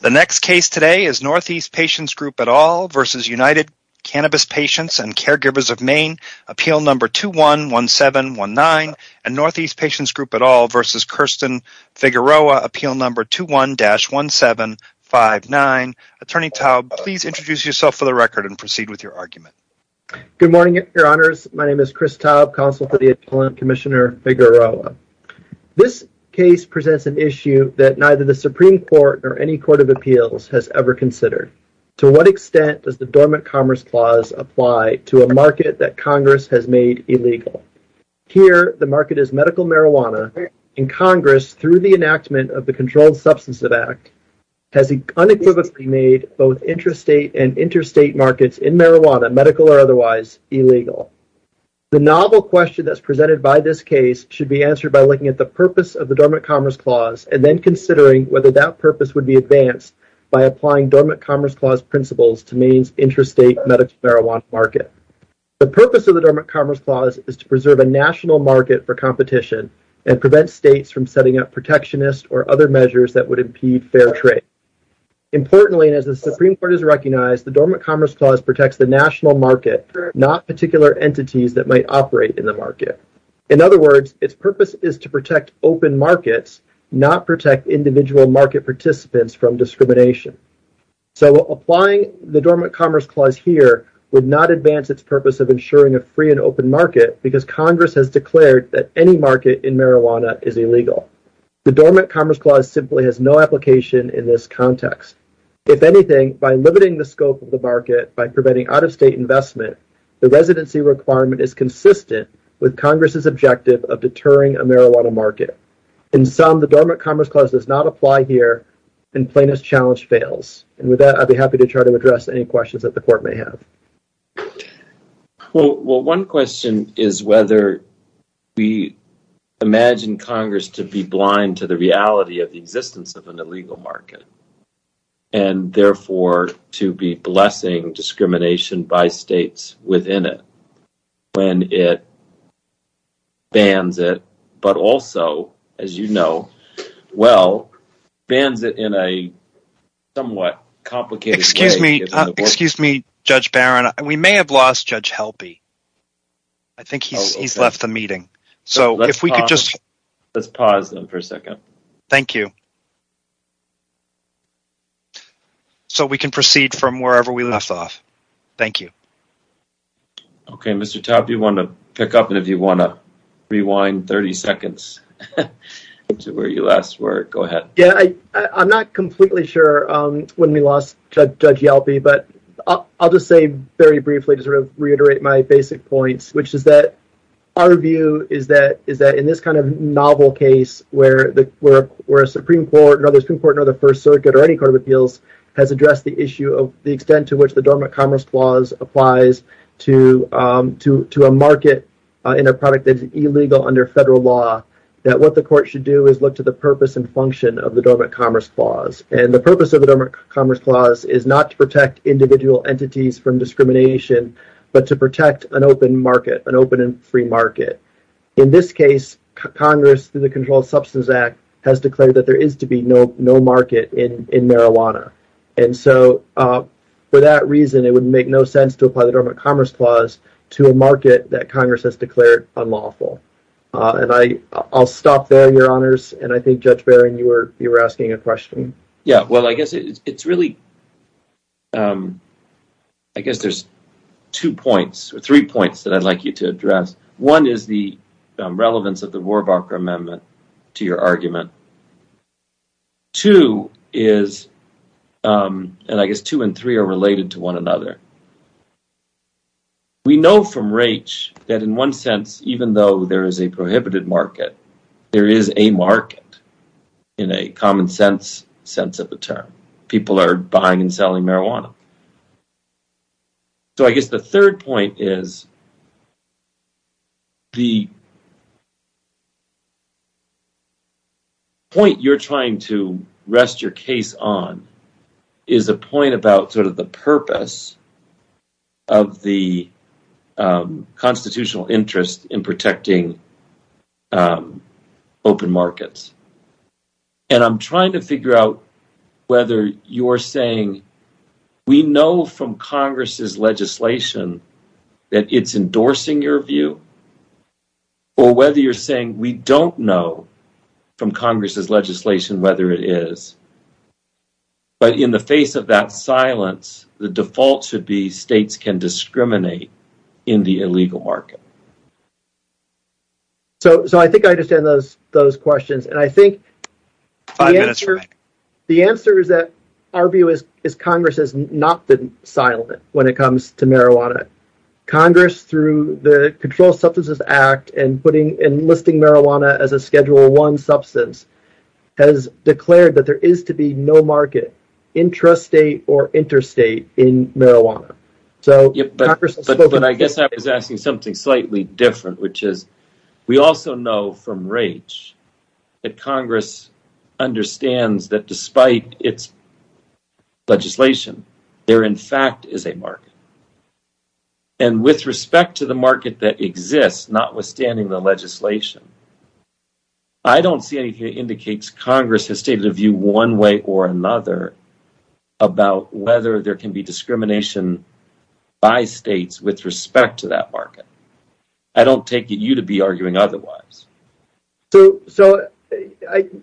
The next case today is Northeast Patients Group et al. versus United Cannabis Patients and Caregivers of Maine. Appeal number 211719 and Northeast Patients Group et al. versus Kirsten Figueroa. Appeal number 21-1759. Attorney Taub, please introduce yourself for the record and proceed with your argument. Good morning, your honors. My name is Chris Taub, counsel for the Supreme Court or any Court of Appeals has ever considered. To what extent does the Dormant Commerce Clause apply to a market that Congress has made illegal? Here, the market is medical marijuana and Congress, through the enactment of the Controlled Substances Act, has unequivocally made both interstate and interstate markets in marijuana, medical or otherwise, illegal. The novel question that's presented by this case should be answered by looking at the purpose of the Dormant Commerce Clause and then considering whether that purpose would be advanced by applying Dormant Commerce Clause principles to Maine's interstate medical marijuana market. The purpose of the Dormant Commerce Clause is to preserve a national market for competition and prevent states from setting up protectionist or other measures that would impede fair trade. Importantly, and as the Supreme Court has recognized, the Dormant Commerce Clause protects the national market, not particular entities that might operate in the market. In other words, its purpose is to protect open markets, not protect individual market participants from discrimination. So, applying the Dormant Commerce Clause here would not advance its purpose of ensuring a free and open market because Congress has declared that any market in marijuana is illegal. The Dormant Commerce Clause simply has no application in this context. If anything, by limiting the scope of the market by preventing out-of-state investment, the residency requirement is consistent with Congress's objective of deterring a marijuana market. In sum, the Dormant Commerce Clause does not apply here and plaintiff's challenge fails. And with that, I'd be happy to try to address any questions that the court may have. Well, one question is whether we imagine Congress to be blind to the reality of the existence of an illegal market and, therefore, to be blessing discrimination by states within it when it bans it, but also, as you know well, bans it in a somewhat complicated way. Excuse me, Judge Barron, we may have lost Judge Helpy. I think he's left the meeting, so if we could just... Let's pause them for a second. Thank you. So, we can proceed from wherever we left off. Thank you. Okay, Mr. Taub, do you want to pick up and if you want to rewind 30 seconds to where you last were, go ahead. Yeah, I'm not completely sure when we lost Judge Helpy, but I'll just say very briefly to sort of reiterate my basic points, which were a Supreme Court, another Supreme Court, another First Circuit, or any court of appeals has addressed the issue of the extent to which the Dormant Commerce Clause applies to a market in a product that's illegal under federal law, that what the court should do is look to the purpose and function of the Dormant Commerce Clause. And the purpose of the Dormant Commerce Clause is not to protect individual entities from discrimination, but to protect an open market, an open and free market. In this case, Congress, through the Controlled Substance Act, has declared that there is to be no market in marijuana. And so, for that reason, it would make no sense to apply the Dormant Commerce Clause to a market that Congress has declared unlawful. And I'll stop there, Your Honors, and I think, Judge Barron, you were asking a question. Yeah, well, I guess it's really, I guess there's two points or three points that I'd like you to address. One is the relevance of the Rohrabacher Amendment to your argument. Two is, and I guess two and three are related to one another. We know from Raich that in one sense, even though there is a prohibited market, there is a market in a common sense sense of the term. People are buying and selling marijuana. So I guess the third point is the point you're trying to rest your case on is a point about sort of the purpose of the constitutional interest in protecting open markets. And I'm trying to figure out whether you're saying we know from Congress's legislation that it's endorsing your view, or whether you're saying we don't know from Congress's legislation whether it is. But in the face of that silence, the default should be states can discriminate in the illegal market. So I think I understand those questions. And I think the answer is that our view is Congress has not been silent when it comes to marijuana. Congress, through the Controlled Substances Act and putting enlisting marijuana as a Schedule 1 substance, has declared that there is to be no market, intrastate or interstate, in marijuana. But I guess I was asking something slightly different, which is we also know from Raich that Congress understands that despite its legislation, there in fact is a market. And with respect to the market that exists, notwithstanding the legislation, I don't see anything that indicates Congress has stated a view one way or another about whether there can be discrimination by states with respect to that market. I don't take it you to be arguing otherwise.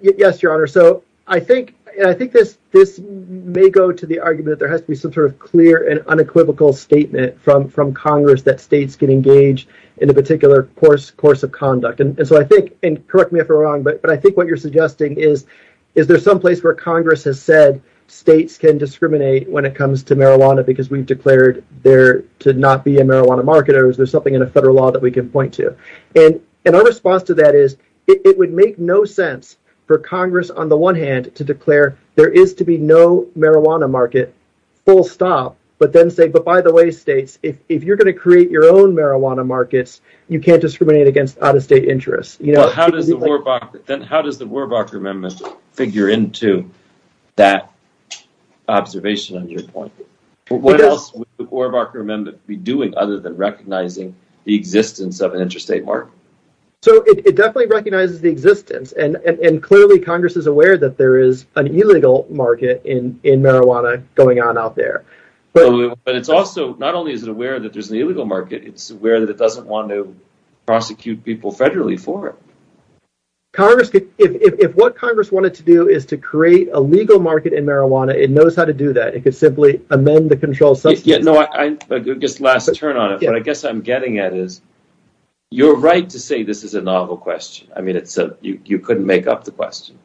Yes, Your Honor. So I think this may go to the argument that there has to be some sort of clear and unequivocal statement from Congress that states can engage in a particular course of conduct. And so I think, and correct me if I'm wrong, but I think what you're suggesting is, is there some place where Congress has said states can discriminate when it comes to marijuana because we've declared there to not be a marijuana market or is there something in a federal law that we can point to? And our response to that is it would make no sense for Congress, on the one hand, to declare there is to be no marijuana market, full stop, but then if you're going to create your own marijuana markets, you can't discriminate against out-of-state interests. Well, then how does the Warbacher Amendment figure into that observation on your point? What else would the Warbacher Amendment be doing other than recognizing the existence of an interstate market? So it definitely recognizes the existence, and clearly Congress is aware that there is an illegal market in marijuana going on out there. But it's also, not only is it aware that there's an illegal market, it's aware that it doesn't want to prosecute people federally for it. Congress could, if what Congress wanted to do is to create a legal market in marijuana, it knows how to do that. It could simply amend the control substance. Yeah, no, I, just last turn on it, but I guess I'm getting at is, you're right to say this is a novel question. I mean, it's a, you couldn't make up the question.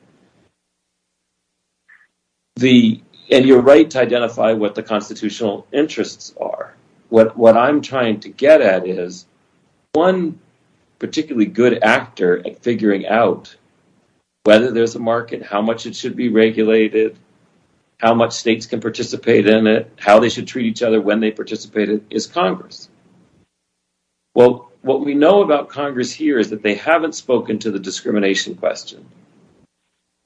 The, and you're right to identify what the constitutional interests are. What I'm trying to get at is, one particularly good actor at figuring out whether there's a market, how much it should be regulated, how much states can participate in it, how they should treat each other when they participate in it, is Congress. Well, what we know about Congress here is that they haven't spoken to the discrimination question.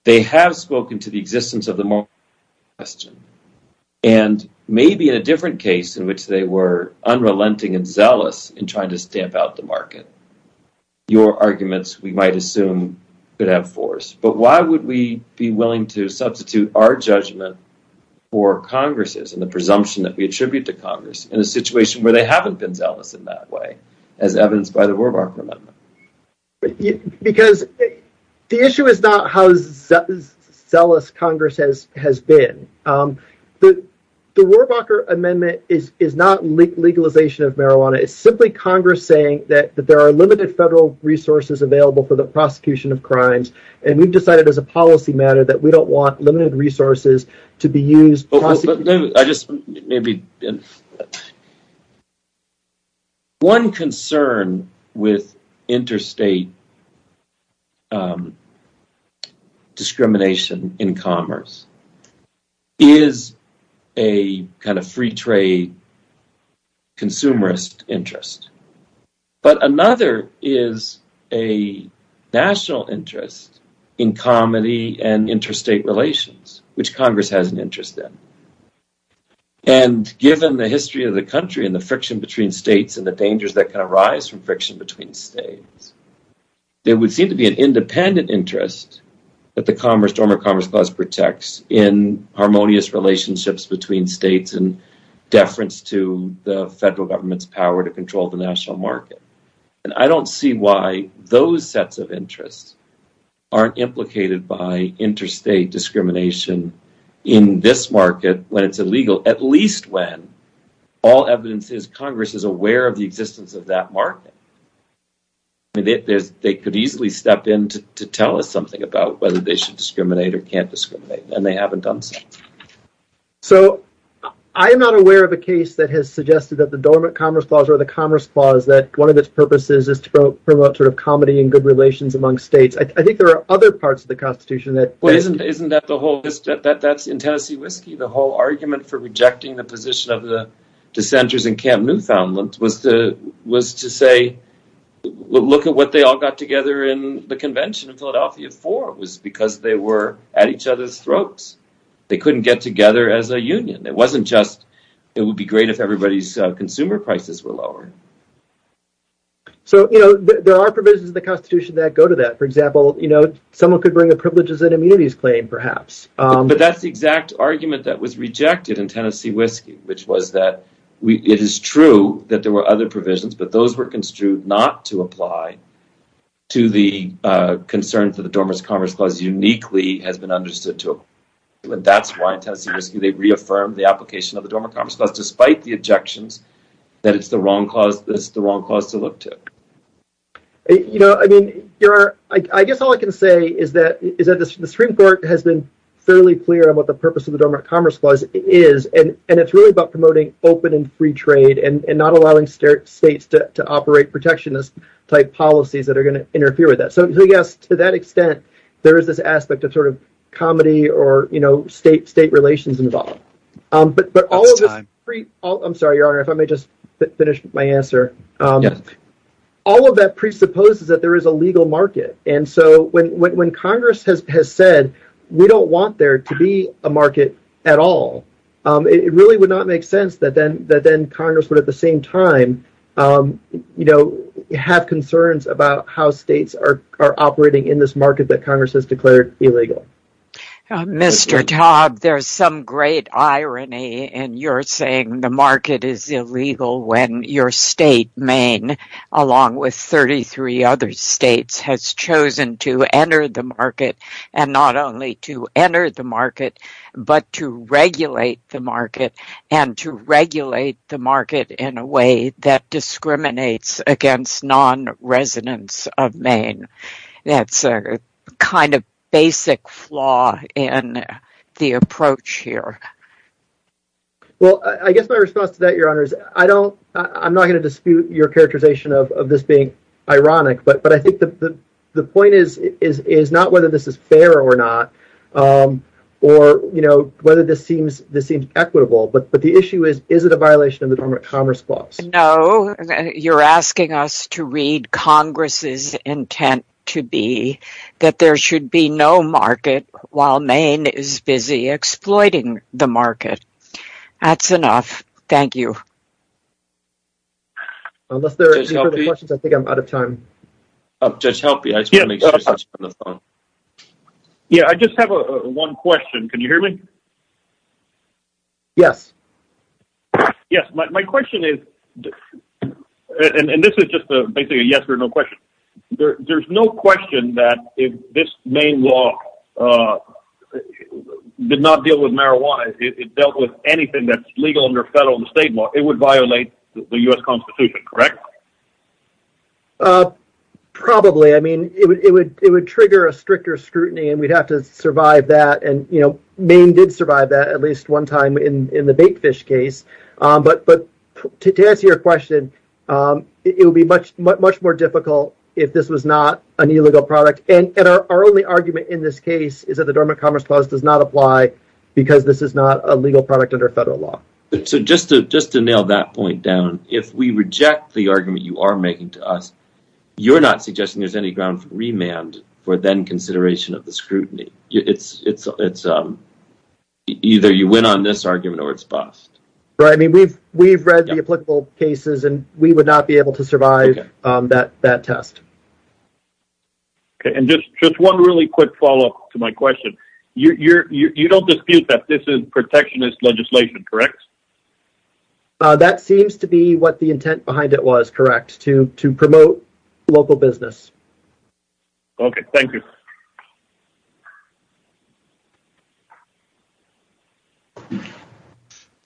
They have spoken to the existence of the moral question, and maybe in a different case in which they were unrelenting and zealous in trying to stamp out the market. Your arguments, we might assume, could have force, but why would we be willing to substitute our judgment for Congress's and the presumption that we attribute to Congress in a situation where they haven't been zealous in that way, as evidenced by the because the issue is not how zealous Congress has been. The Warbucker Amendment is not legalization of marijuana. It's simply Congress saying that there are limited federal resources available for the prosecution of crimes, and we've decided as a policy matter that we don't want limited state discrimination in commerce. It is a kind of free trade consumerist interest, but another is a national interest in comedy and interstate relations, which Congress has an interest in. Given the history of the country and the friction between states and the dangers that can arise from friction between states, there would seem to be an independent interest that the former Commerce Clause protects in harmonious relationships between states and deference to the federal government's power to control the national market. I don't see why those sets of interests aren't implicated by interstate discrimination in this market when at least when all evidence is Congress is aware of the existence of that market. They could easily step in to tell us something about whether they should discriminate or can't discriminate, and they haven't done so. I am not aware of a case that has suggested that the Dormant Commerce Clause or the Commerce Clause, that one of its purposes is to promote sort of comedy and good relations among states. I think there are other parts of the Constitution that have that. There are provisions in the Constitution that go to that. For example, someone could bring a privileges and immunities claim, perhaps. That's the exact argument that was rejected in Tennessee Whiskey. It is true that there were other provisions, but those were construed not to apply to the concern that the Dormant Commerce Clause uniquely has been understood to apply. That's why in Tennessee Whiskey, they reaffirmed the application of the Dormant Commerce Clause despite the objections that it's the wrong cause to look to. I guess all I can say is that the Supreme Court has been fairly clear on what the purpose of the Dormant Commerce Clause is, and it's really about promoting open and free trade and not allowing states to operate protectionist-type policies that are going to interfere with that. To that extent, there is this aspect of comedy or state relations involved, but all of that presupposes that there is a legal market. When Congress has said, we don't want there to be a market at all, it really would not make sense that Congress would at the same time have concerns about how states are operating in this market that Congress has declared illegal. Mr. Todd, there's some great irony in your saying the market is illegal when your state, Maine, along with 33 other states, has chosen to enter the market and not only to enter the market but to regulate the market and to regulate the market in a way that discriminates against non-residents of Maine. That's a kind of basic flaw in the approach here. I guess my response to that, Your Honor, is I'm not going to dispute your characterization of this being ironic, but I think the point is not whether this is fair or not or whether this seems equitable, but the issue is, is it a violation of the Commerce Clause? No. You're asking us to read Congress's intent to be that there should be no market while Maine is busy exploiting the market. That's enough. Thank you. I just have one question. Can you hear me? Yes. Yes. My question is, and this is just basically a yes or no question, there's no question that if this Maine law did not deal with marijuana, if it dealt with anything that's legal under federal and state law, it would violate the U.S. Constitution, correct? Probably. It would trigger a stricter scrutiny and we'd have to survive that. Maine did survive that at least one time in the bait fish case, but to answer your question, it would be much more difficult if this was not an illegal product. Our only argument in this case is that the Dormant Commerce Clause does not apply because this is not a legal product under federal law. Just to nail that point down, if we reject the argument you are making to us, you're not suggesting there's any ground for remand for then consideration of the scrutiny. Either you win on this argument or it's bust. We've read the applicable cases and we would not be able to survive that test. And just one really quick follow-up to my question. You don't dispute that this is protectionist legislation, correct? That seems to be what the intent behind it was, correct, to promote local business. Okay, thank you.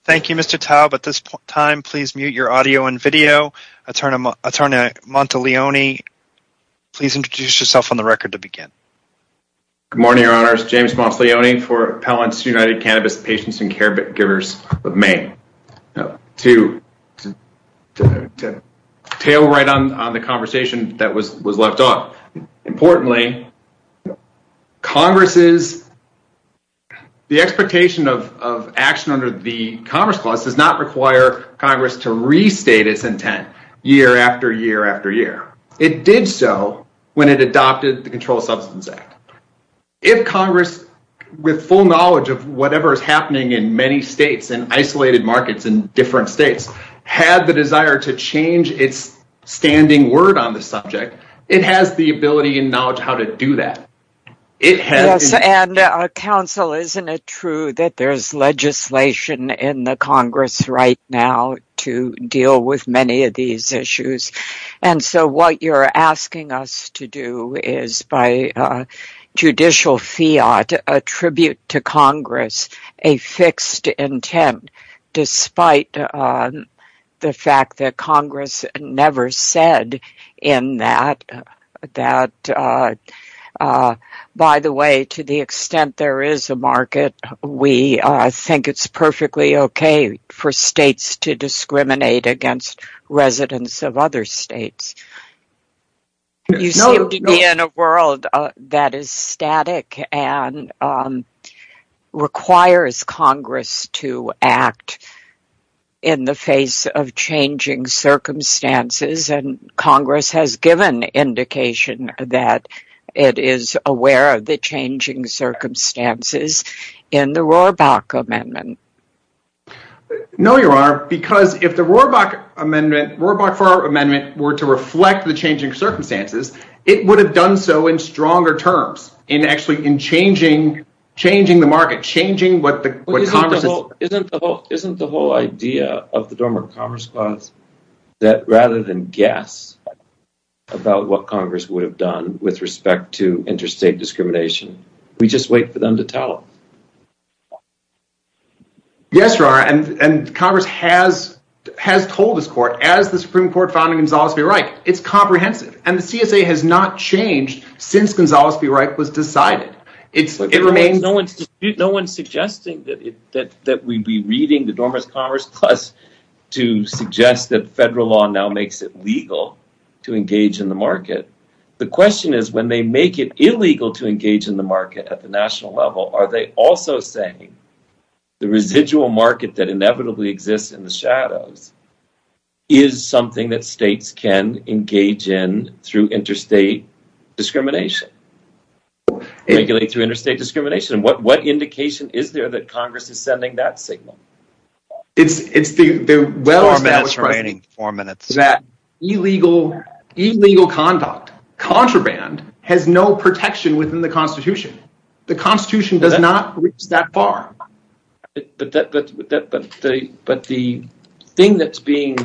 Thank you, Mr. Taub. At this time, please mute your audio and video. Attorney Monteleone, please introduce yourself on the record to begin. Good morning, Your Honors. James Monteleone for Appellants United Cannabis Patients and Caregivers of Maine. To tail right on the conversation that was left off. Importantly, the expectation of action under the Commerce Clause does not require Congress to restate its intent year after year after year. It did so when it adopted the Controlled Substance Act. If Congress, with full knowledge of whatever is happening in many states and isolated markets in different states, had the desire to change its standing word on the subject, it has the ability and knowledge how to do that. Yes, and counsel, isn't it true that there's legislation in the Congress? And so what you're asking us to do is, by judicial fiat, attribute to Congress a fixed intent, despite the fact that Congress never said in that that, by the way, to the extent there is a market, we think it's perfectly okay for states to discriminate against residents of other states. You seem to be in a world that is static and requires Congress to act in the face of changing circumstances, and Congress has given indication that it is aware of that. If the Rohrbach-Farr Amendment were to reflect the changing circumstances, it would have done so in stronger terms, in actually changing the market. Isn't the whole idea of the Dormer Commerce Clause that rather than guess about what Congress would have done with respect to interstate discrimination, we just wait for them to tell? Yes, and Congress has told this court, as the Supreme Court found in Gonzales v. Reich, it's comprehensive, and the CSA has not changed since Gonzales v. Reich was decided. No one's suggesting that we be reading the Dormer Commerce Clause to suggest that federal law now makes it legal to engage in the market. The question is, when they make it illegal to engage in the market at the national level, are they also saying the residual market that inevitably exists in the shadows is something that states can engage in through interstate discrimination? What indication is there that Congress is sending that signal? It's the well established precedent that illegal conduct, contraband, has no protection within the Constitution. The Constitution does not reach that far. But the thing that's being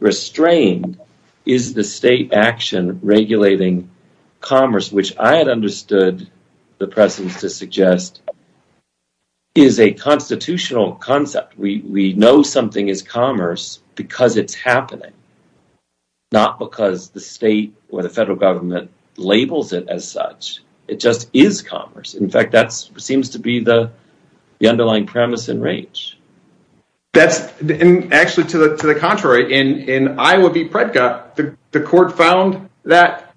restrained is the state action regulating commerce, which I had understood the precedents to suggest is a constitutional concept. We know something is commerce because it's happening, not because the state or the federal government labels it as such. It just is commerce. In fact, that seems to be the underlying premise and range. That's actually to the contrary. In Iowa v. Predka, the court found that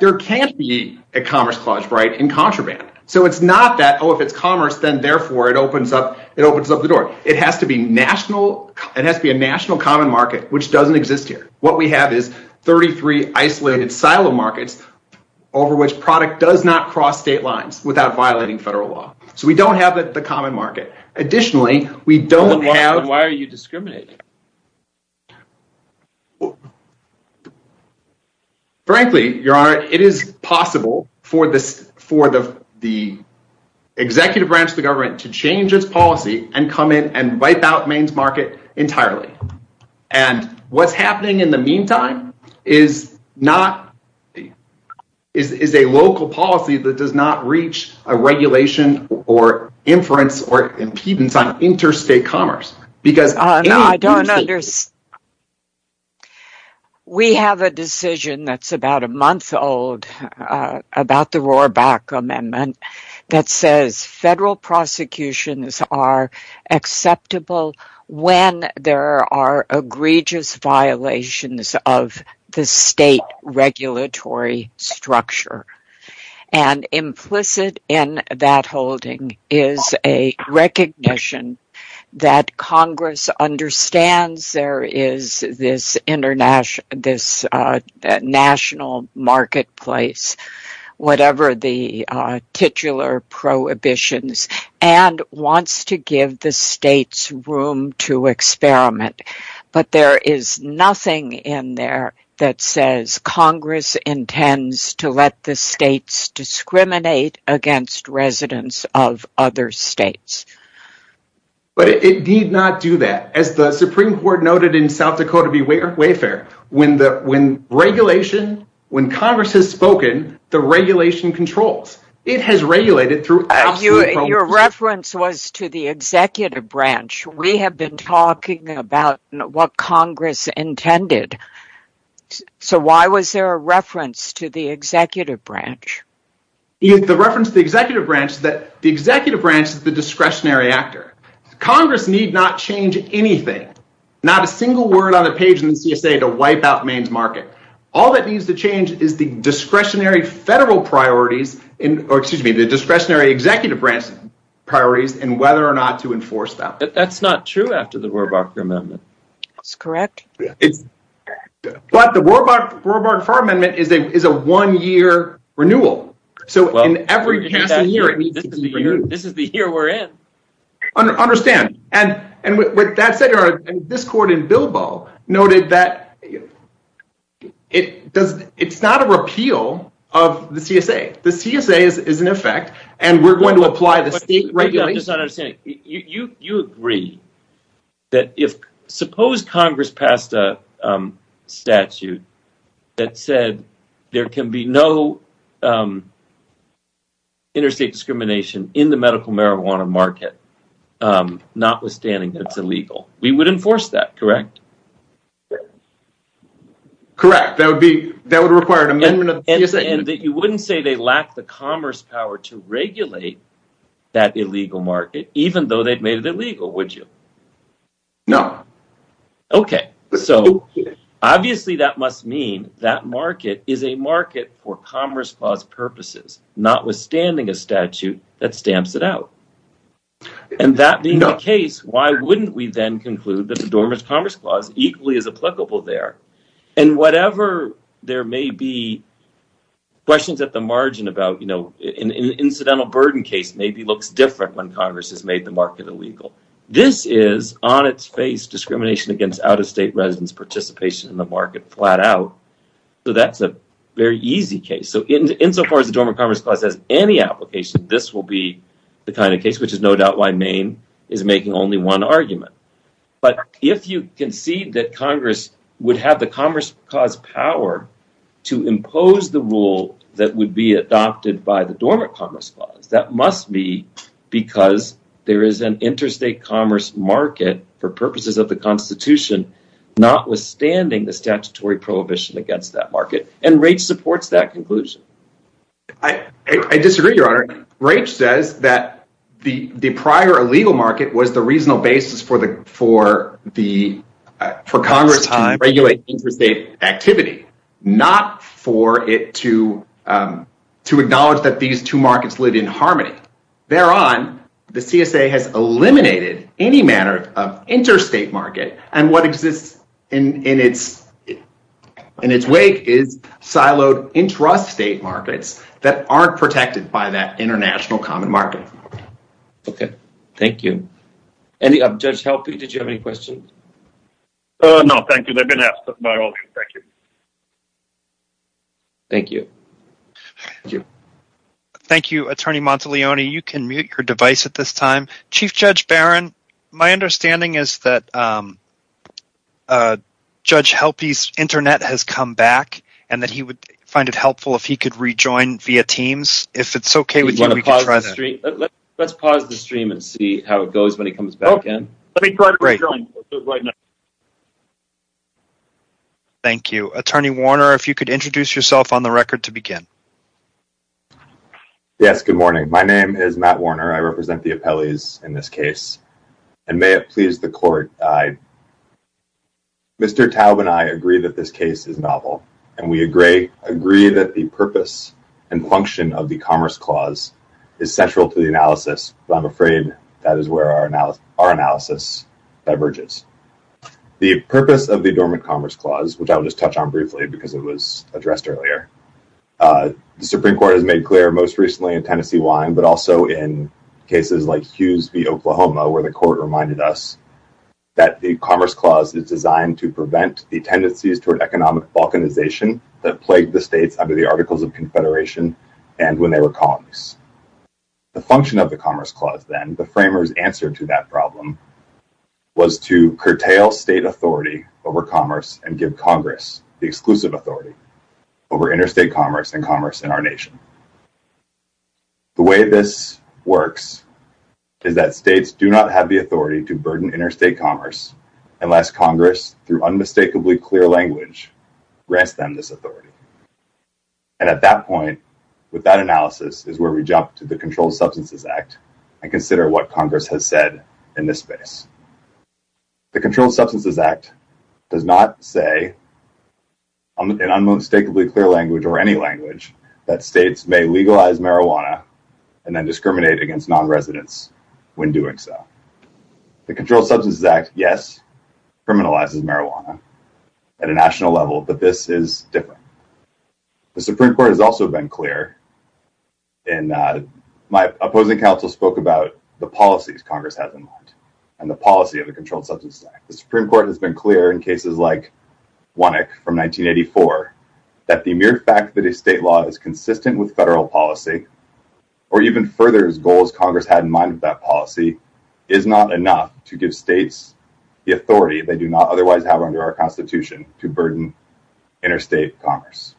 there can't be a Commerce Clause right in contraband. So it's not that, oh, if it's commerce, then therefore it opens up the door. It has to be a national common market, which doesn't exist here. What we have is 33 isolated silo markets over which product does not cross state lines without violating federal law. So we don't have the common market. Additionally, we don't have... Why are you discriminating? Frankly, Your Honor, it is possible for the executive branch of the government to change its policy and come in and wipe out Maine's market entirely. And what's happening in the meantime is a local policy that does not reach a regulation or inference or impedance on interstate commerce. We have a decision that's about a month old about the Rohrabach Amendment that says federal the state regulatory structure. And implicit in that holding is a recognition that Congress understands there is this national marketplace, whatever the titular prohibitions, and wants to that says Congress intends to let the states discriminate against residents of other states. But it did not do that. As the Supreme Court noted in South Dakota Wayfair, when regulation, when Congress has spoken, the regulation controls. It has regulated through absolute prohibitions. Your reference was to the executive branch. We have been talking about what Congress intended. So why was there a reference to the executive branch? The reference to the executive branch is that the executive branch is the discretionary actor. Congress need not change anything, not a single word on the page in the CSA to wipe out Maine's market. All that needs to change is the discretionary executive branch priorities and whether or not to enforce that. That's not true after the Rohrabacher Amendment. That's correct. It's but the Rohrabacher Amendment is a one-year renewal. So in every past year, this is the year we're in. Understand. And with that said, this court in Bilbao noted that it's not a repeal of the CSA. The CSA is in effect, and we're going to apply the state regulation. You agree that if Congress passed a statute that said there can be no interstate discrimination in the medical marijuana market, notwithstanding that it's illegal, we would enforce that, correct? Correct. That would require an amendment of the CSA. You wouldn't say they lack the commerce power to regulate that illegal market, even though they've made it illegal, would you? No. Okay. So obviously that must mean that market is a market for commerce clause purposes, notwithstanding a statute that stamps it out. And that being the case, why wouldn't we then conclude that the Dormant Commerce Clause equally is applicable there? And whatever, there may be questions at the margin about, you know, an incidental burden case maybe looks different when Congress has made the market illegal. This is on its face discrimination against out-of-state residents participation in the market flat out. So that's a very easy case. So insofar as the Dormant Commerce Clause has any application, this will be the kind of case, which is no doubt why Maine is making only one argument. But if you concede that Congress would have the commerce clause power to impose the rule that would be adopted by the Dormant Commerce Clause, that must be because there is an interstate commerce market for purposes of the Constitution, notwithstanding the statutory prohibition against that market. And Raich supports that conclusion. I disagree, Your Honor. Raich says that the prior illegal market was the reasonable basis for the for Congress to regulate interstate activity, not for it to acknowledge that these two markets live in harmony. Thereon, the CSA has eliminated any manner of interstate market. And what exists in its wake is siloed intrastate markets that aren't protected by that international common market. Okay. Thank you. Judge Helpe, did you have any questions? No, thank you. They've been asked by all of you. Thank you. Thank you. Thank you. Thank you, Attorney Monteleone. You can mute your device at this time. Chief Judge Barron, my understanding is that Judge Helpe's internet has come back and that he would find it helpful if he could rejoin via Teams. If it's okay with you, let's pause the stream and see how it goes when he comes back in. Thank you. Attorney Warner, if you could introduce yourself on the record to begin. Yes, good morning. My name is Matt Warner. I represent the appellees in this case. And may it please the court, Mr. Taub and I agree that this case is novel. And we agree that the purpose and function of the Commerce Clause is central to the analysis. But I'm afraid that is where our analysis diverges. The purpose of the Dormant Commerce Clause, which I'll just touch on briefly because it was addressed earlier, the Supreme Court has made clear most recently in Tennessee wine, but also in cases like Hughes v. Oklahoma, where the court reminded us that the Commerce Clause is designed to prevent the tendencies toward economic balkanization that plagued the and when they were colonies. The function of the Commerce Clause, then the framers answer to that problem was to curtail state authority over commerce and give Congress the exclusive authority over interstate commerce and commerce in our nation. The way this works is that states do not have the authority to burden interstate commerce, unless Congress through unmistakably clear language grants them this authority. And at that point, with that analysis is where we jump to the Controlled Substances Act and consider what Congress has said in this space. The Controlled Substances Act does not say in unmistakably clear language or any language that states may legalize marijuana and then discriminate against non-residents when doing so. The Controlled Substances Act, yes, criminalizes marijuana at a national level, but this is different. The Supreme Court has also been clear and my opposing counsel spoke about the policies Congress has in mind and the policy of the Controlled Substances Act. The Supreme Court has been clear in cases like Wannick from 1984, that the mere fact that a state law is consistent with federal policy, or even further as goals Congress had in mind with that policy, is not enough to give states the authority they do not otherwise have under our Constitution to burden interstate commerce.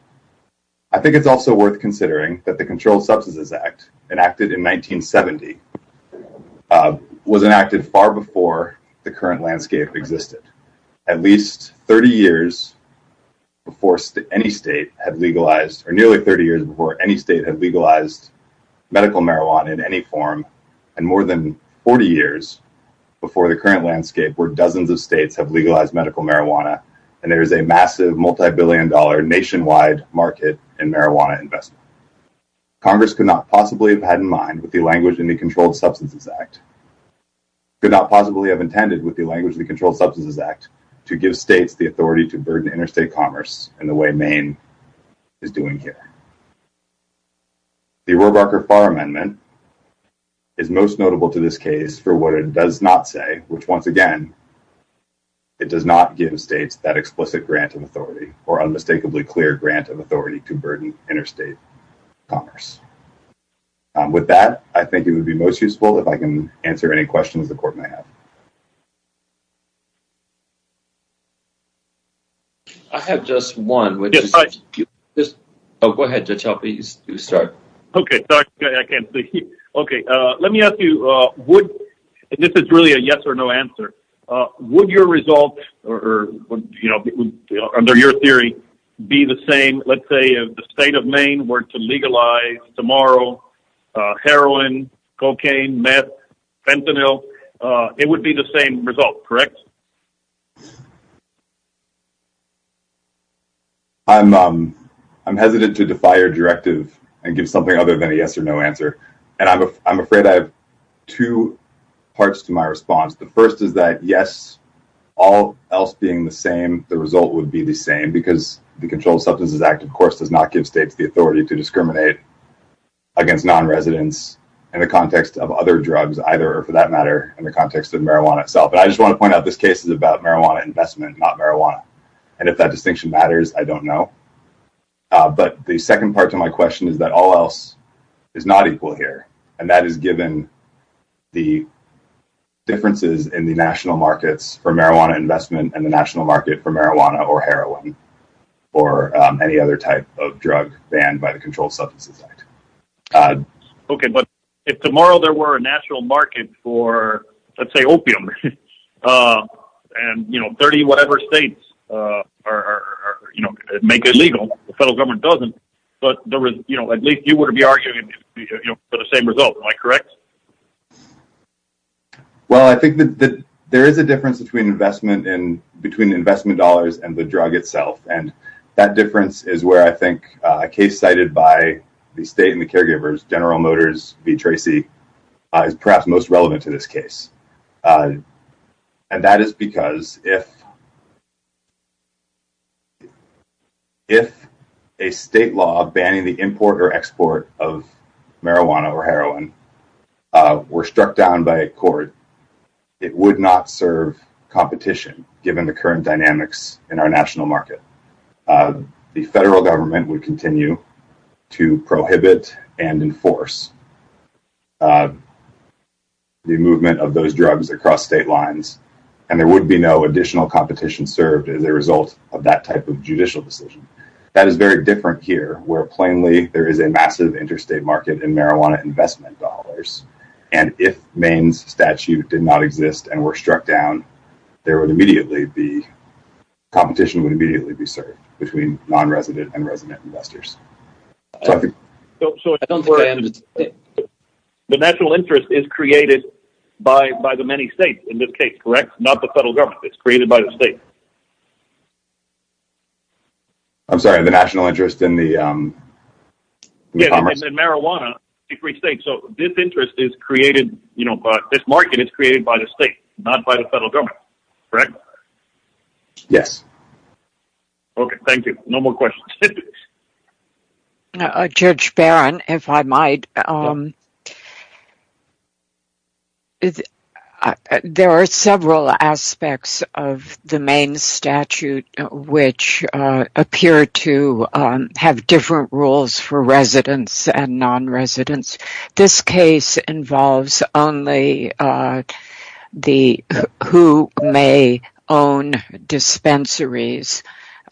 I think it's also worth considering that the Controlled Substances Act, enacted in 1970, was enacted far before the current landscape existed. At least 30 years before any state had legalized, or nearly 30 years before any state had legalized medical marijuana in any form, and more than 40 years before the current landscape where dozens of states have legalized medical marijuana and there is a massive multi-billion dollar nationwide market in marijuana investment. Congress could not possibly have had in mind with the language in the Controlled Substances Act, could not possibly have intended with the authority to burden interstate commerce in the way Maine is doing here. The Roebucker-Farr Amendment is most notable to this case for what it does not say, which once again, it does not give states that explicit grant of authority, or unmistakably clear grant of authority to burden interstate commerce. With that, I think it would be most useful if I can answer any questions the court may have. I have just one. Okay, let me ask you, this is really a yes or no answer. Would your result, under your theory, be the same, let's say if the state of Maine were to legalize tomorrow heroin, cocaine, meth, fentanyl, it would be the same result, correct? I'm hesitant to defy your directive and give something other than a yes or no answer, and I'm afraid I have two parts to my response. The first is that yes, all else being the same, the result would be the same, because the Controlled Substances Act, of course, does not give states the authority to discriminate against non-residents in the context of other drugs either, or for that matter, in the context of marijuana itself. And I just want to point out this case is about marijuana investment, not marijuana, and if that distinction matters, I don't know. But the second part to my question is that all else is not equal here, and that is given the differences in the national markets for marijuana or heroin or any other type of drug banned by the Controlled Substances Act. Okay, but if tomorrow there were a national market for, let's say, opium, and 30 whatever states make it legal, the federal government doesn't, but at least you wouldn't be arguing for the same result, am I correct? Well, I think that there is a difference between investment dollars and the drug itself, and that difference is where I think a case cited by the state and the caregivers, General Motors v. Tracy, is perhaps most relevant to this case. And that is because if a state law banning the import or export of marijuana or heroin were struck down by a court, it would not serve competition given the current dynamics in our national market. The federal government would continue to prohibit and enforce the movement of those drugs across state lines, and there would be no additional competition served as a result of that type of judicial decision. That is very different here, where plainly there is a massive interstate market in marijuana investment dollars, and if Maine's statute did not exist and were struck down, competition would immediately be served between non-resident and resident investors. The national interest is created by the many states in this case, correct? Not the federal government. It's created by the state. I'm sorry, the national interest in the commerce. Yes, in marijuana. So, this interest is created, you know, this market is created by the state, not by the federal government, correct? Yes. Okay, thank you. No more questions. Judge Barron, if I might. There are several aspects of the Maine statute which appear to have different rules for residents and non-residents. This case involves only who may own dispensaries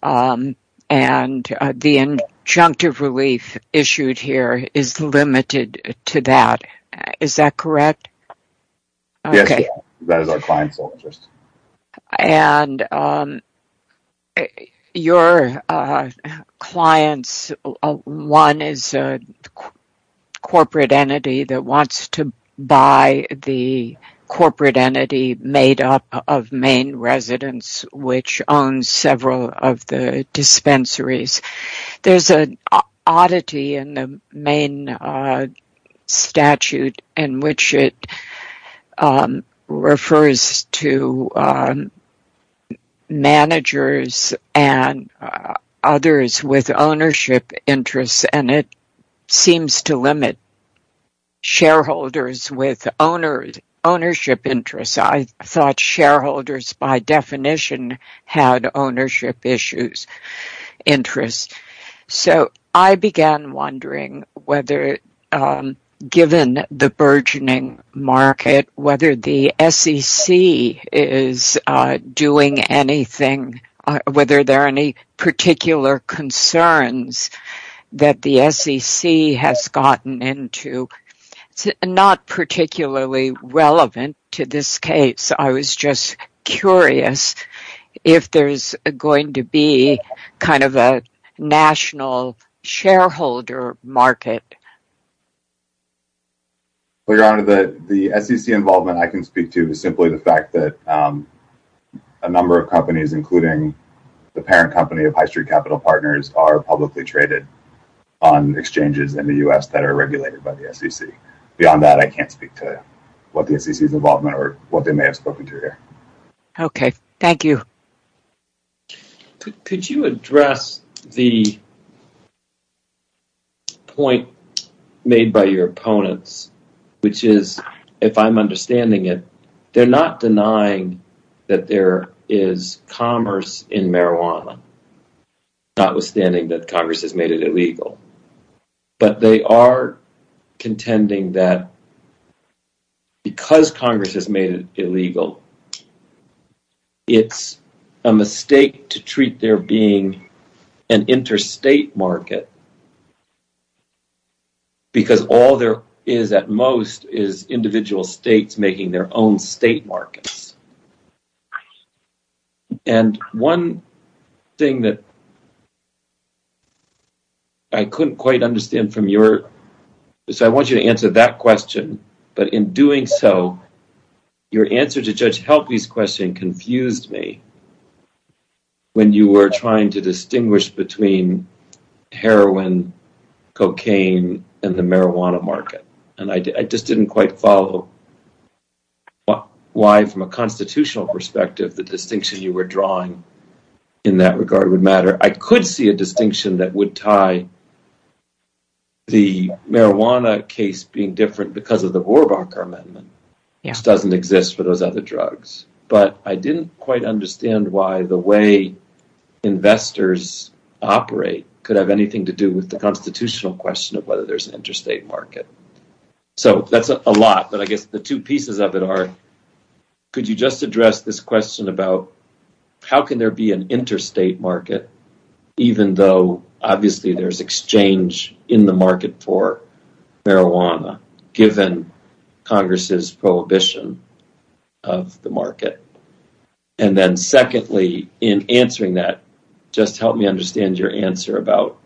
and the injunctive relief issued here is limited to that. Is that correct? Yes, that is our client's interest. And your clients, one is a corporate entity that wants to buy the corporate entity made up of Maine residents, which owns several of the dispensaries. There's an oddity in the Maine statute in which it refers to managers and others with ownership interests, and it seems to limit shareholders with ownership interests. I thought shareholders by definition had ownership interests. So, I began wondering whether, given the burgeoning market, whether the SEC is doing anything, whether there are any particular concerns that the SEC has gotten into. It's not particularly relevant to this case. I was just curious if there's going to be kind of a national shareholder market. Well, Your Honor, the SEC involvement I can speak to is simply the fact that a number of companies, including the parent company of High Street Capital Partners, are publicly traded on exchanges in the U.S. that are regulated by the SEC. Beyond that, I can't speak to what the SEC's involvement or what they may have spoken to here. Okay, thank you. Could you address the point made by your opponents, which is, if I'm understanding it, they're not denying that there is commerce in marijuana, notwithstanding that Congress has made it illegal, but they are contending that because Congress has made it illegal, it's a mistake to treat there being an interstate market because all there is, at most, is individual states making their own state markets. And one thing that I couldn't quite understand from your... So I want you to answer that question, but in doing so, your answer to Judge Helpe's question confused me when you were trying to distinguish between heroin, cocaine, and the marijuana market. And I just didn't quite follow why, from a constitutional perspective, the distinction you were drawing in that regard would matter. I could see a distinction that would tie the marijuana case being different because of the Rohrabacher Amendment, which doesn't exist for those other drugs, but I didn't quite understand why the way investors operate could have anything to do with the constitutional question of whether there's an interstate market. So that's a lot, but I guess the two pieces of it are, could you just address this question about how can there be an interstate market, even though, obviously, there's exchange in the market for marijuana, given Congress's prohibition of the market? And then secondly, in answering that, just help me understand your answer about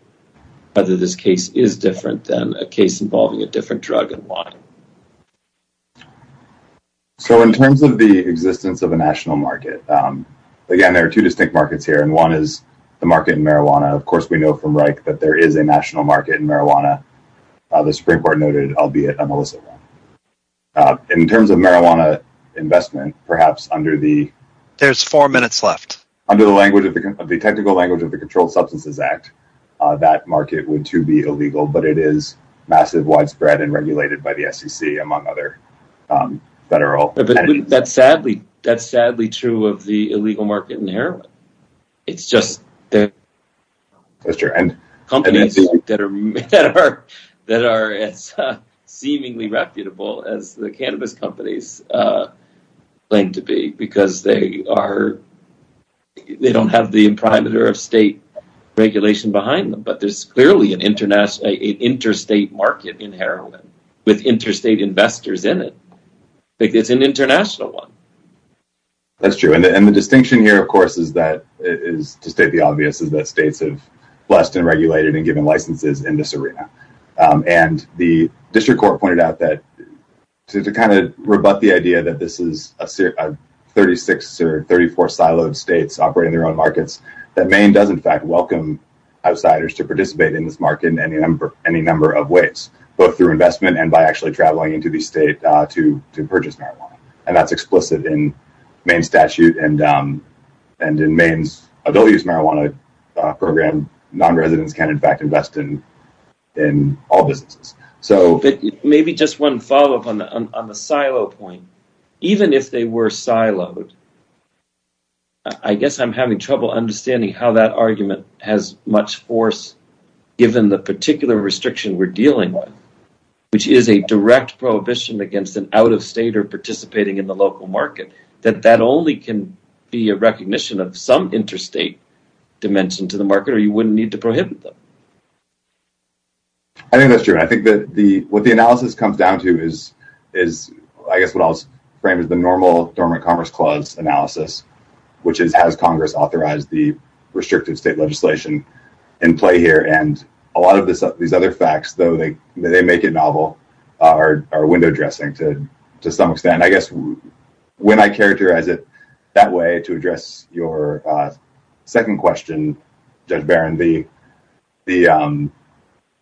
whether this case is different than a case involving a different drug and why. So in terms of the existence of a national market, again, there are two distinct markets here, one is the market in marijuana. Of course, we know from Reich that there is a national market in marijuana, the Supreme Court noted, albeit a malicious one. In terms of marijuana investment, perhaps under the technical language of the Controlled Substances Act, that market would, too, be illegal, but it is massive, widespread, and regulated by the SEC, among other federal entities. That's sadly true of the illegal market in heroin. It's just that companies that are as seemingly reputable as the cannabis companies claim to be, because they don't have the imprimatur of state regulation behind them, but there's clearly an interstate market in heroin with interstate investors in it. It's an international one. That's true, and the distinction here, of course, to state the obvious, is that states have blessed and regulated and given licenses in this arena. The District Court pointed out that, to kind of rebut the idea that this is 36 or 34 siloed states operating their own markets, that Maine does, in fact, welcome outsiders to participate in this market in any number of ways, both through investment and by actually traveling into the state to purchase marijuana. That's explicit in Maine's statute and in Maine's Ability to Use Marijuana program. Non-residents can, in fact, invest in all businesses. Maybe just one follow-up on the silo point. Even if they were siloed, I guess I'm having trouble understanding how that argument has much force, given the particular restriction we're dealing with, which is a direct prohibition against an out-of-state or participating in the local market, that that only can be a recognition of some interstate dimension to the market or you wouldn't need to prohibit them. I think that's true. I think that what the analysis comes down to is, I guess, what I'll frame as the normal Dormant Commerce Clause analysis, which is, has Congress authorized the restrictive state legislation in play here? A lot of these other facts, though they make it novel, are window dressing to some extent. I guess, when I characterize it that way to address your second question, Judge Barron,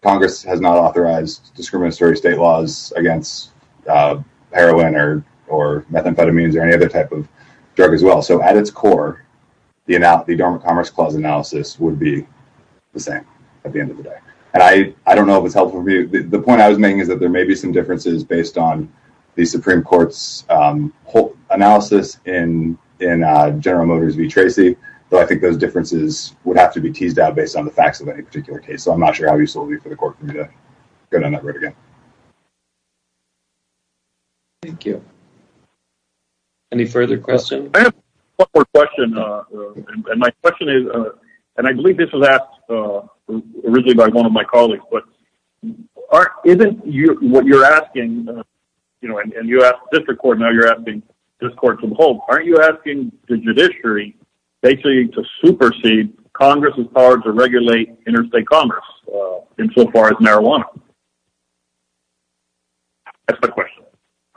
Congress has not authorized discriminatory state laws against heroin or methamphetamines or any other type of drug as well. At its core, the Dormant Commerce Clause analysis would be the same at the end of the day. I don't know if it's helpful for you. The point I was making is that there may be some differences based on the Supreme Court's analysis in General Motors v. Tracy, though I think those differences would have to be teased out based on the facts of any particular case. I'm not sure how useful it would be for the Court for me to go down that road again. Thank you. Any further questions? I have one more question. My question is, and I believe this was asked originally by one of my colleagues, but isn't what you're asking, you know, and you asked the District Court, now you're asking this Court to the whole, aren't you asking the judiciary basically to supersede Congress's power to regulate interstate commerce insofar as marijuana? That's my question.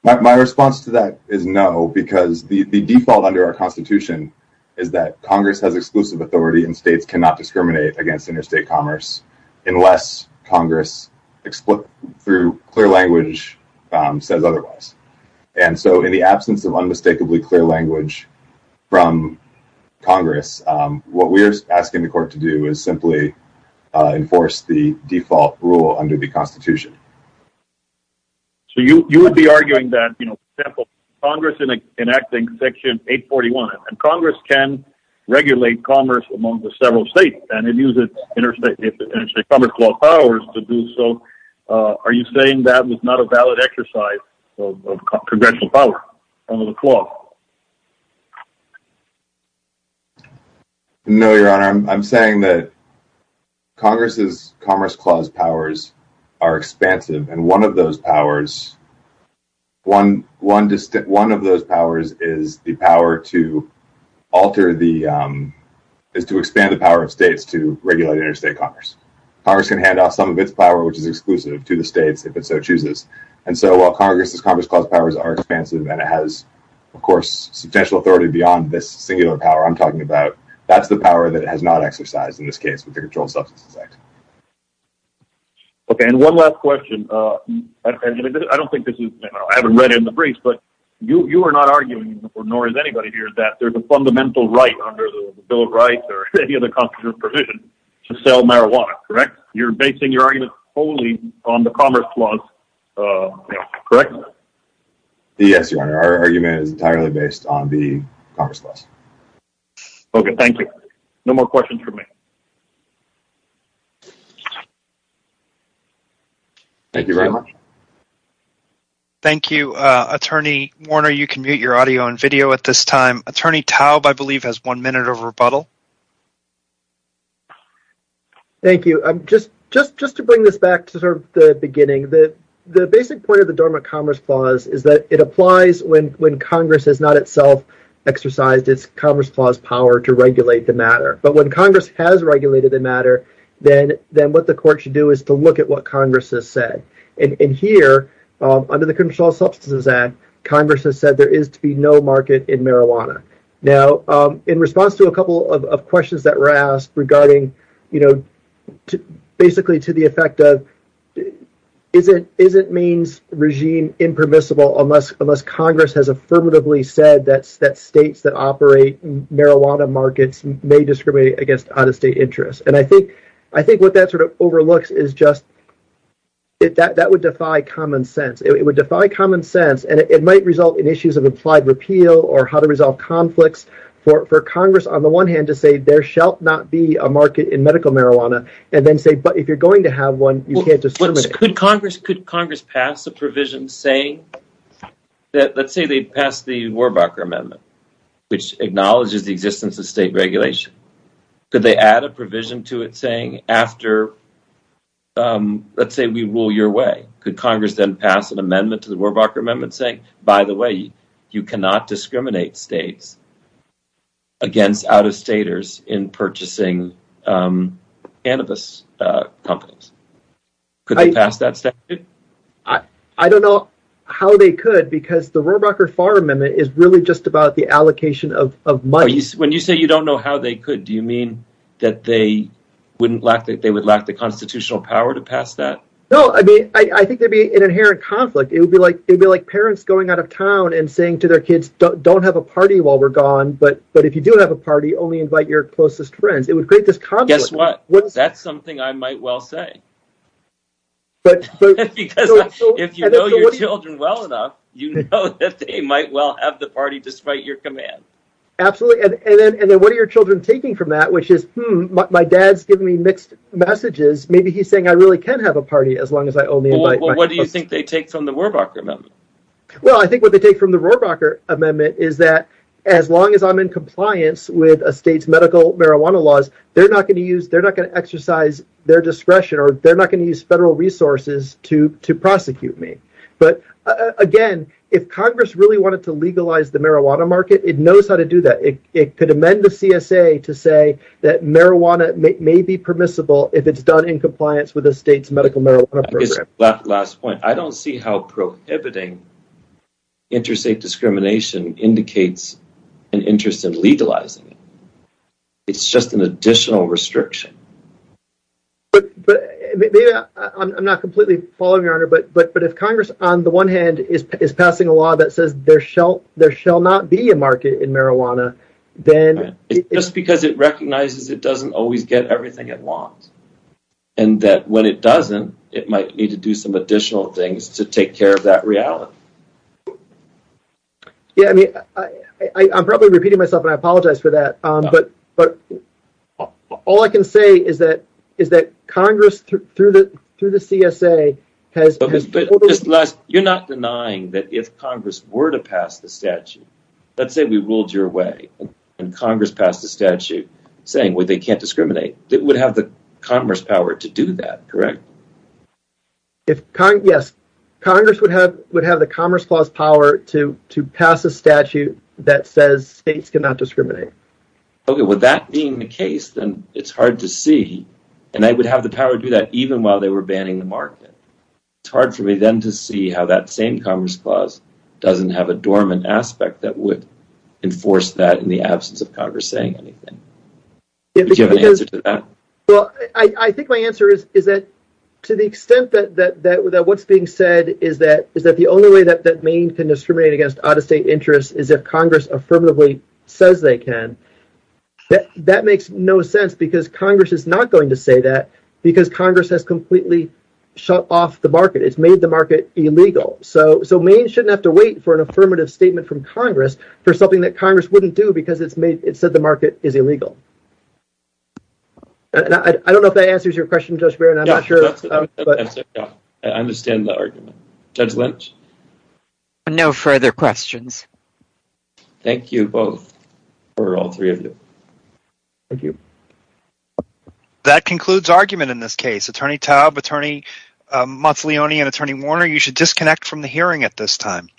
My response to that is no, because the default under our Constitution is that Congress has exclusive authority and states cannot discriminate against interstate commerce unless Congress, through clear language, says otherwise. And so in the absence of unmistakably clear language from Congress, what we're asking the Court to do is simply enforce the default rule under the Constitution. So you would be arguing that, you know, for example, Congress enacting Section 841, and Congress can regulate commerce among the several states and it uses interstate commerce law powers to do so, are you saying that was not a valid exercise of Congressional power under the Congress? Congress's Commerce Clause powers are expansive and one of those powers, one of those powers is the power to alter the, is to expand the power of states to regulate interstate commerce. Congress can hand off some of its power, which is exclusive, to the states if it so chooses. And so while Congress's Commerce Clause powers are expansive and it has, of course, substantial authority beyond this singular power I'm talking about, that's the power that it has exercised in this case with the Controlled Substances Act. Okay, and one last question. I don't think this is, I haven't read it in the briefs, but you are not arguing, nor is anybody here, that there's a fundamental right under the Bill of Rights or any other constitutional provision to sell marijuana, correct? You're basing your argument solely on the Commerce Clause, correct? Yes, Your Honor, our argument is entirely based on the Commerce Clause. Okay, thank you. No more questions from me. Thank you very much. Thank you, Attorney Warner, you can mute your audio and video at this time. Attorney Taub, I believe, has one minute of rebuttal. Thank you. Just to bring this back to sort of the beginning, the basic point of the Dormant Commerce Clause is that it applies when Congress has not itself exercised its own Commerce Clause power to regulate the matter. But when Congress has regulated the matter, then what the court should do is to look at what Congress has said. And here, under the Controlled Substances Act, Congress has said there is to be no market in marijuana. Now, in response to a couple of questions that were asked regarding, you know, basically to the effect of, is it Maine's regime impermissible unless Congress has affirmatively said that states that operate marijuana markets may discriminate against out-of-state interests? And I think what that sort of overlooks is just that would defy common sense. It would defy common sense, and it might result in issues of implied repeal or how to resolve conflicts for Congress, on the one hand, to say there shall not be a market in medical marijuana, and then say, but if you're going to have one, you can't just terminate it. Could Congress pass a provision saying that, let's say they pass the Warbucker Amendment, which acknowledges the existence of state regulation. Could they add a provision to it saying after, let's say we rule your way, could Congress then pass an amendment to the Warbucker Amendment saying, by the way, you cannot discriminate states against out-of-staters in purchasing cannabis companies? Could they pass that statute? I don't know how they could, because the Warbucker Farm Amendment is really just about the allocation of money. When you say you don't know how they could, do you mean that they would lack the constitutional power to pass that? No, I mean, I think there'd be an inherent conflict. It would be like parents going out of town and saying to their kids, don't have a party while we're gone, but if you do have a party, only invite your closest friends. It would create this conflict. Guess what? That's something I might well say, because if you know your children well enough, you know that they might well have the party despite your command. Absolutely, and then what are your children taking from that, which is, hmm, my dad's giving me mixed messages. Maybe he's saying I really can have a party as long as I only invite my closest friends. Well, what do you think they take from the Warbucker Amendment? Well, I think what they take from the state's medical marijuana laws, they're not going to use, they're not going to exercise their discretion, or they're not going to use federal resources to prosecute me. But again, if Congress really wanted to legalize the marijuana market, it knows how to do that. It could amend the CSA to say that marijuana may be permissible if it's done in compliance with the state's medical marijuana program. Last point, I don't see how prohibiting interstate discrimination indicates an interest in legalizing it. It's just an additional restriction. I'm not completely following, Your Honor, but if Congress, on the one hand, is passing a law that says there shall not be a market in marijuana, then... Just because it recognizes it doesn't always get everything it wants, and that when it doesn't, it might need to do some additional things to take care of that reality. Yeah, I mean, I'm probably repeating myself, and I apologize for that, but all I can say is that Congress, through the CSA, has... You're not denying that if Congress were to pass the statute, let's say we ruled your way, and Congress passed a statute saying they can't discriminate, it would have the Congress power to do that, correct? Yes, Congress would have the Commerce Clause power to pass a statute that says states cannot discriminate. Okay, with that being the case, then it's hard to see, and they would have the power to do that even while they were banning the market. It's hard for me, then, to see how that same Commerce Clause doesn't have a dormant aspect that would enforce that in the absence of Congress saying anything. Do you have an answer to that? Well, I think my answer is that to the extent that what's being said is that the only way that Maine can discriminate against out-of-state interests is if Congress affirmatively says they can. That makes no sense, because Congress is not going to say that, because Congress has completely shut off the market. It's made the market illegal, so Maine shouldn't have to wait for an affirmative statement from Congress for something that is illegal. I don't know if that answers your question, Judge Barron. I'm not sure. I understand the argument. Judge Lynch? No further questions. Thank you, both, or all three of you. Thank you. That concludes argument in this case. Attorney Taub, Attorney Monteleone, and Attorney Warner, you should disconnect from the hearing at this time.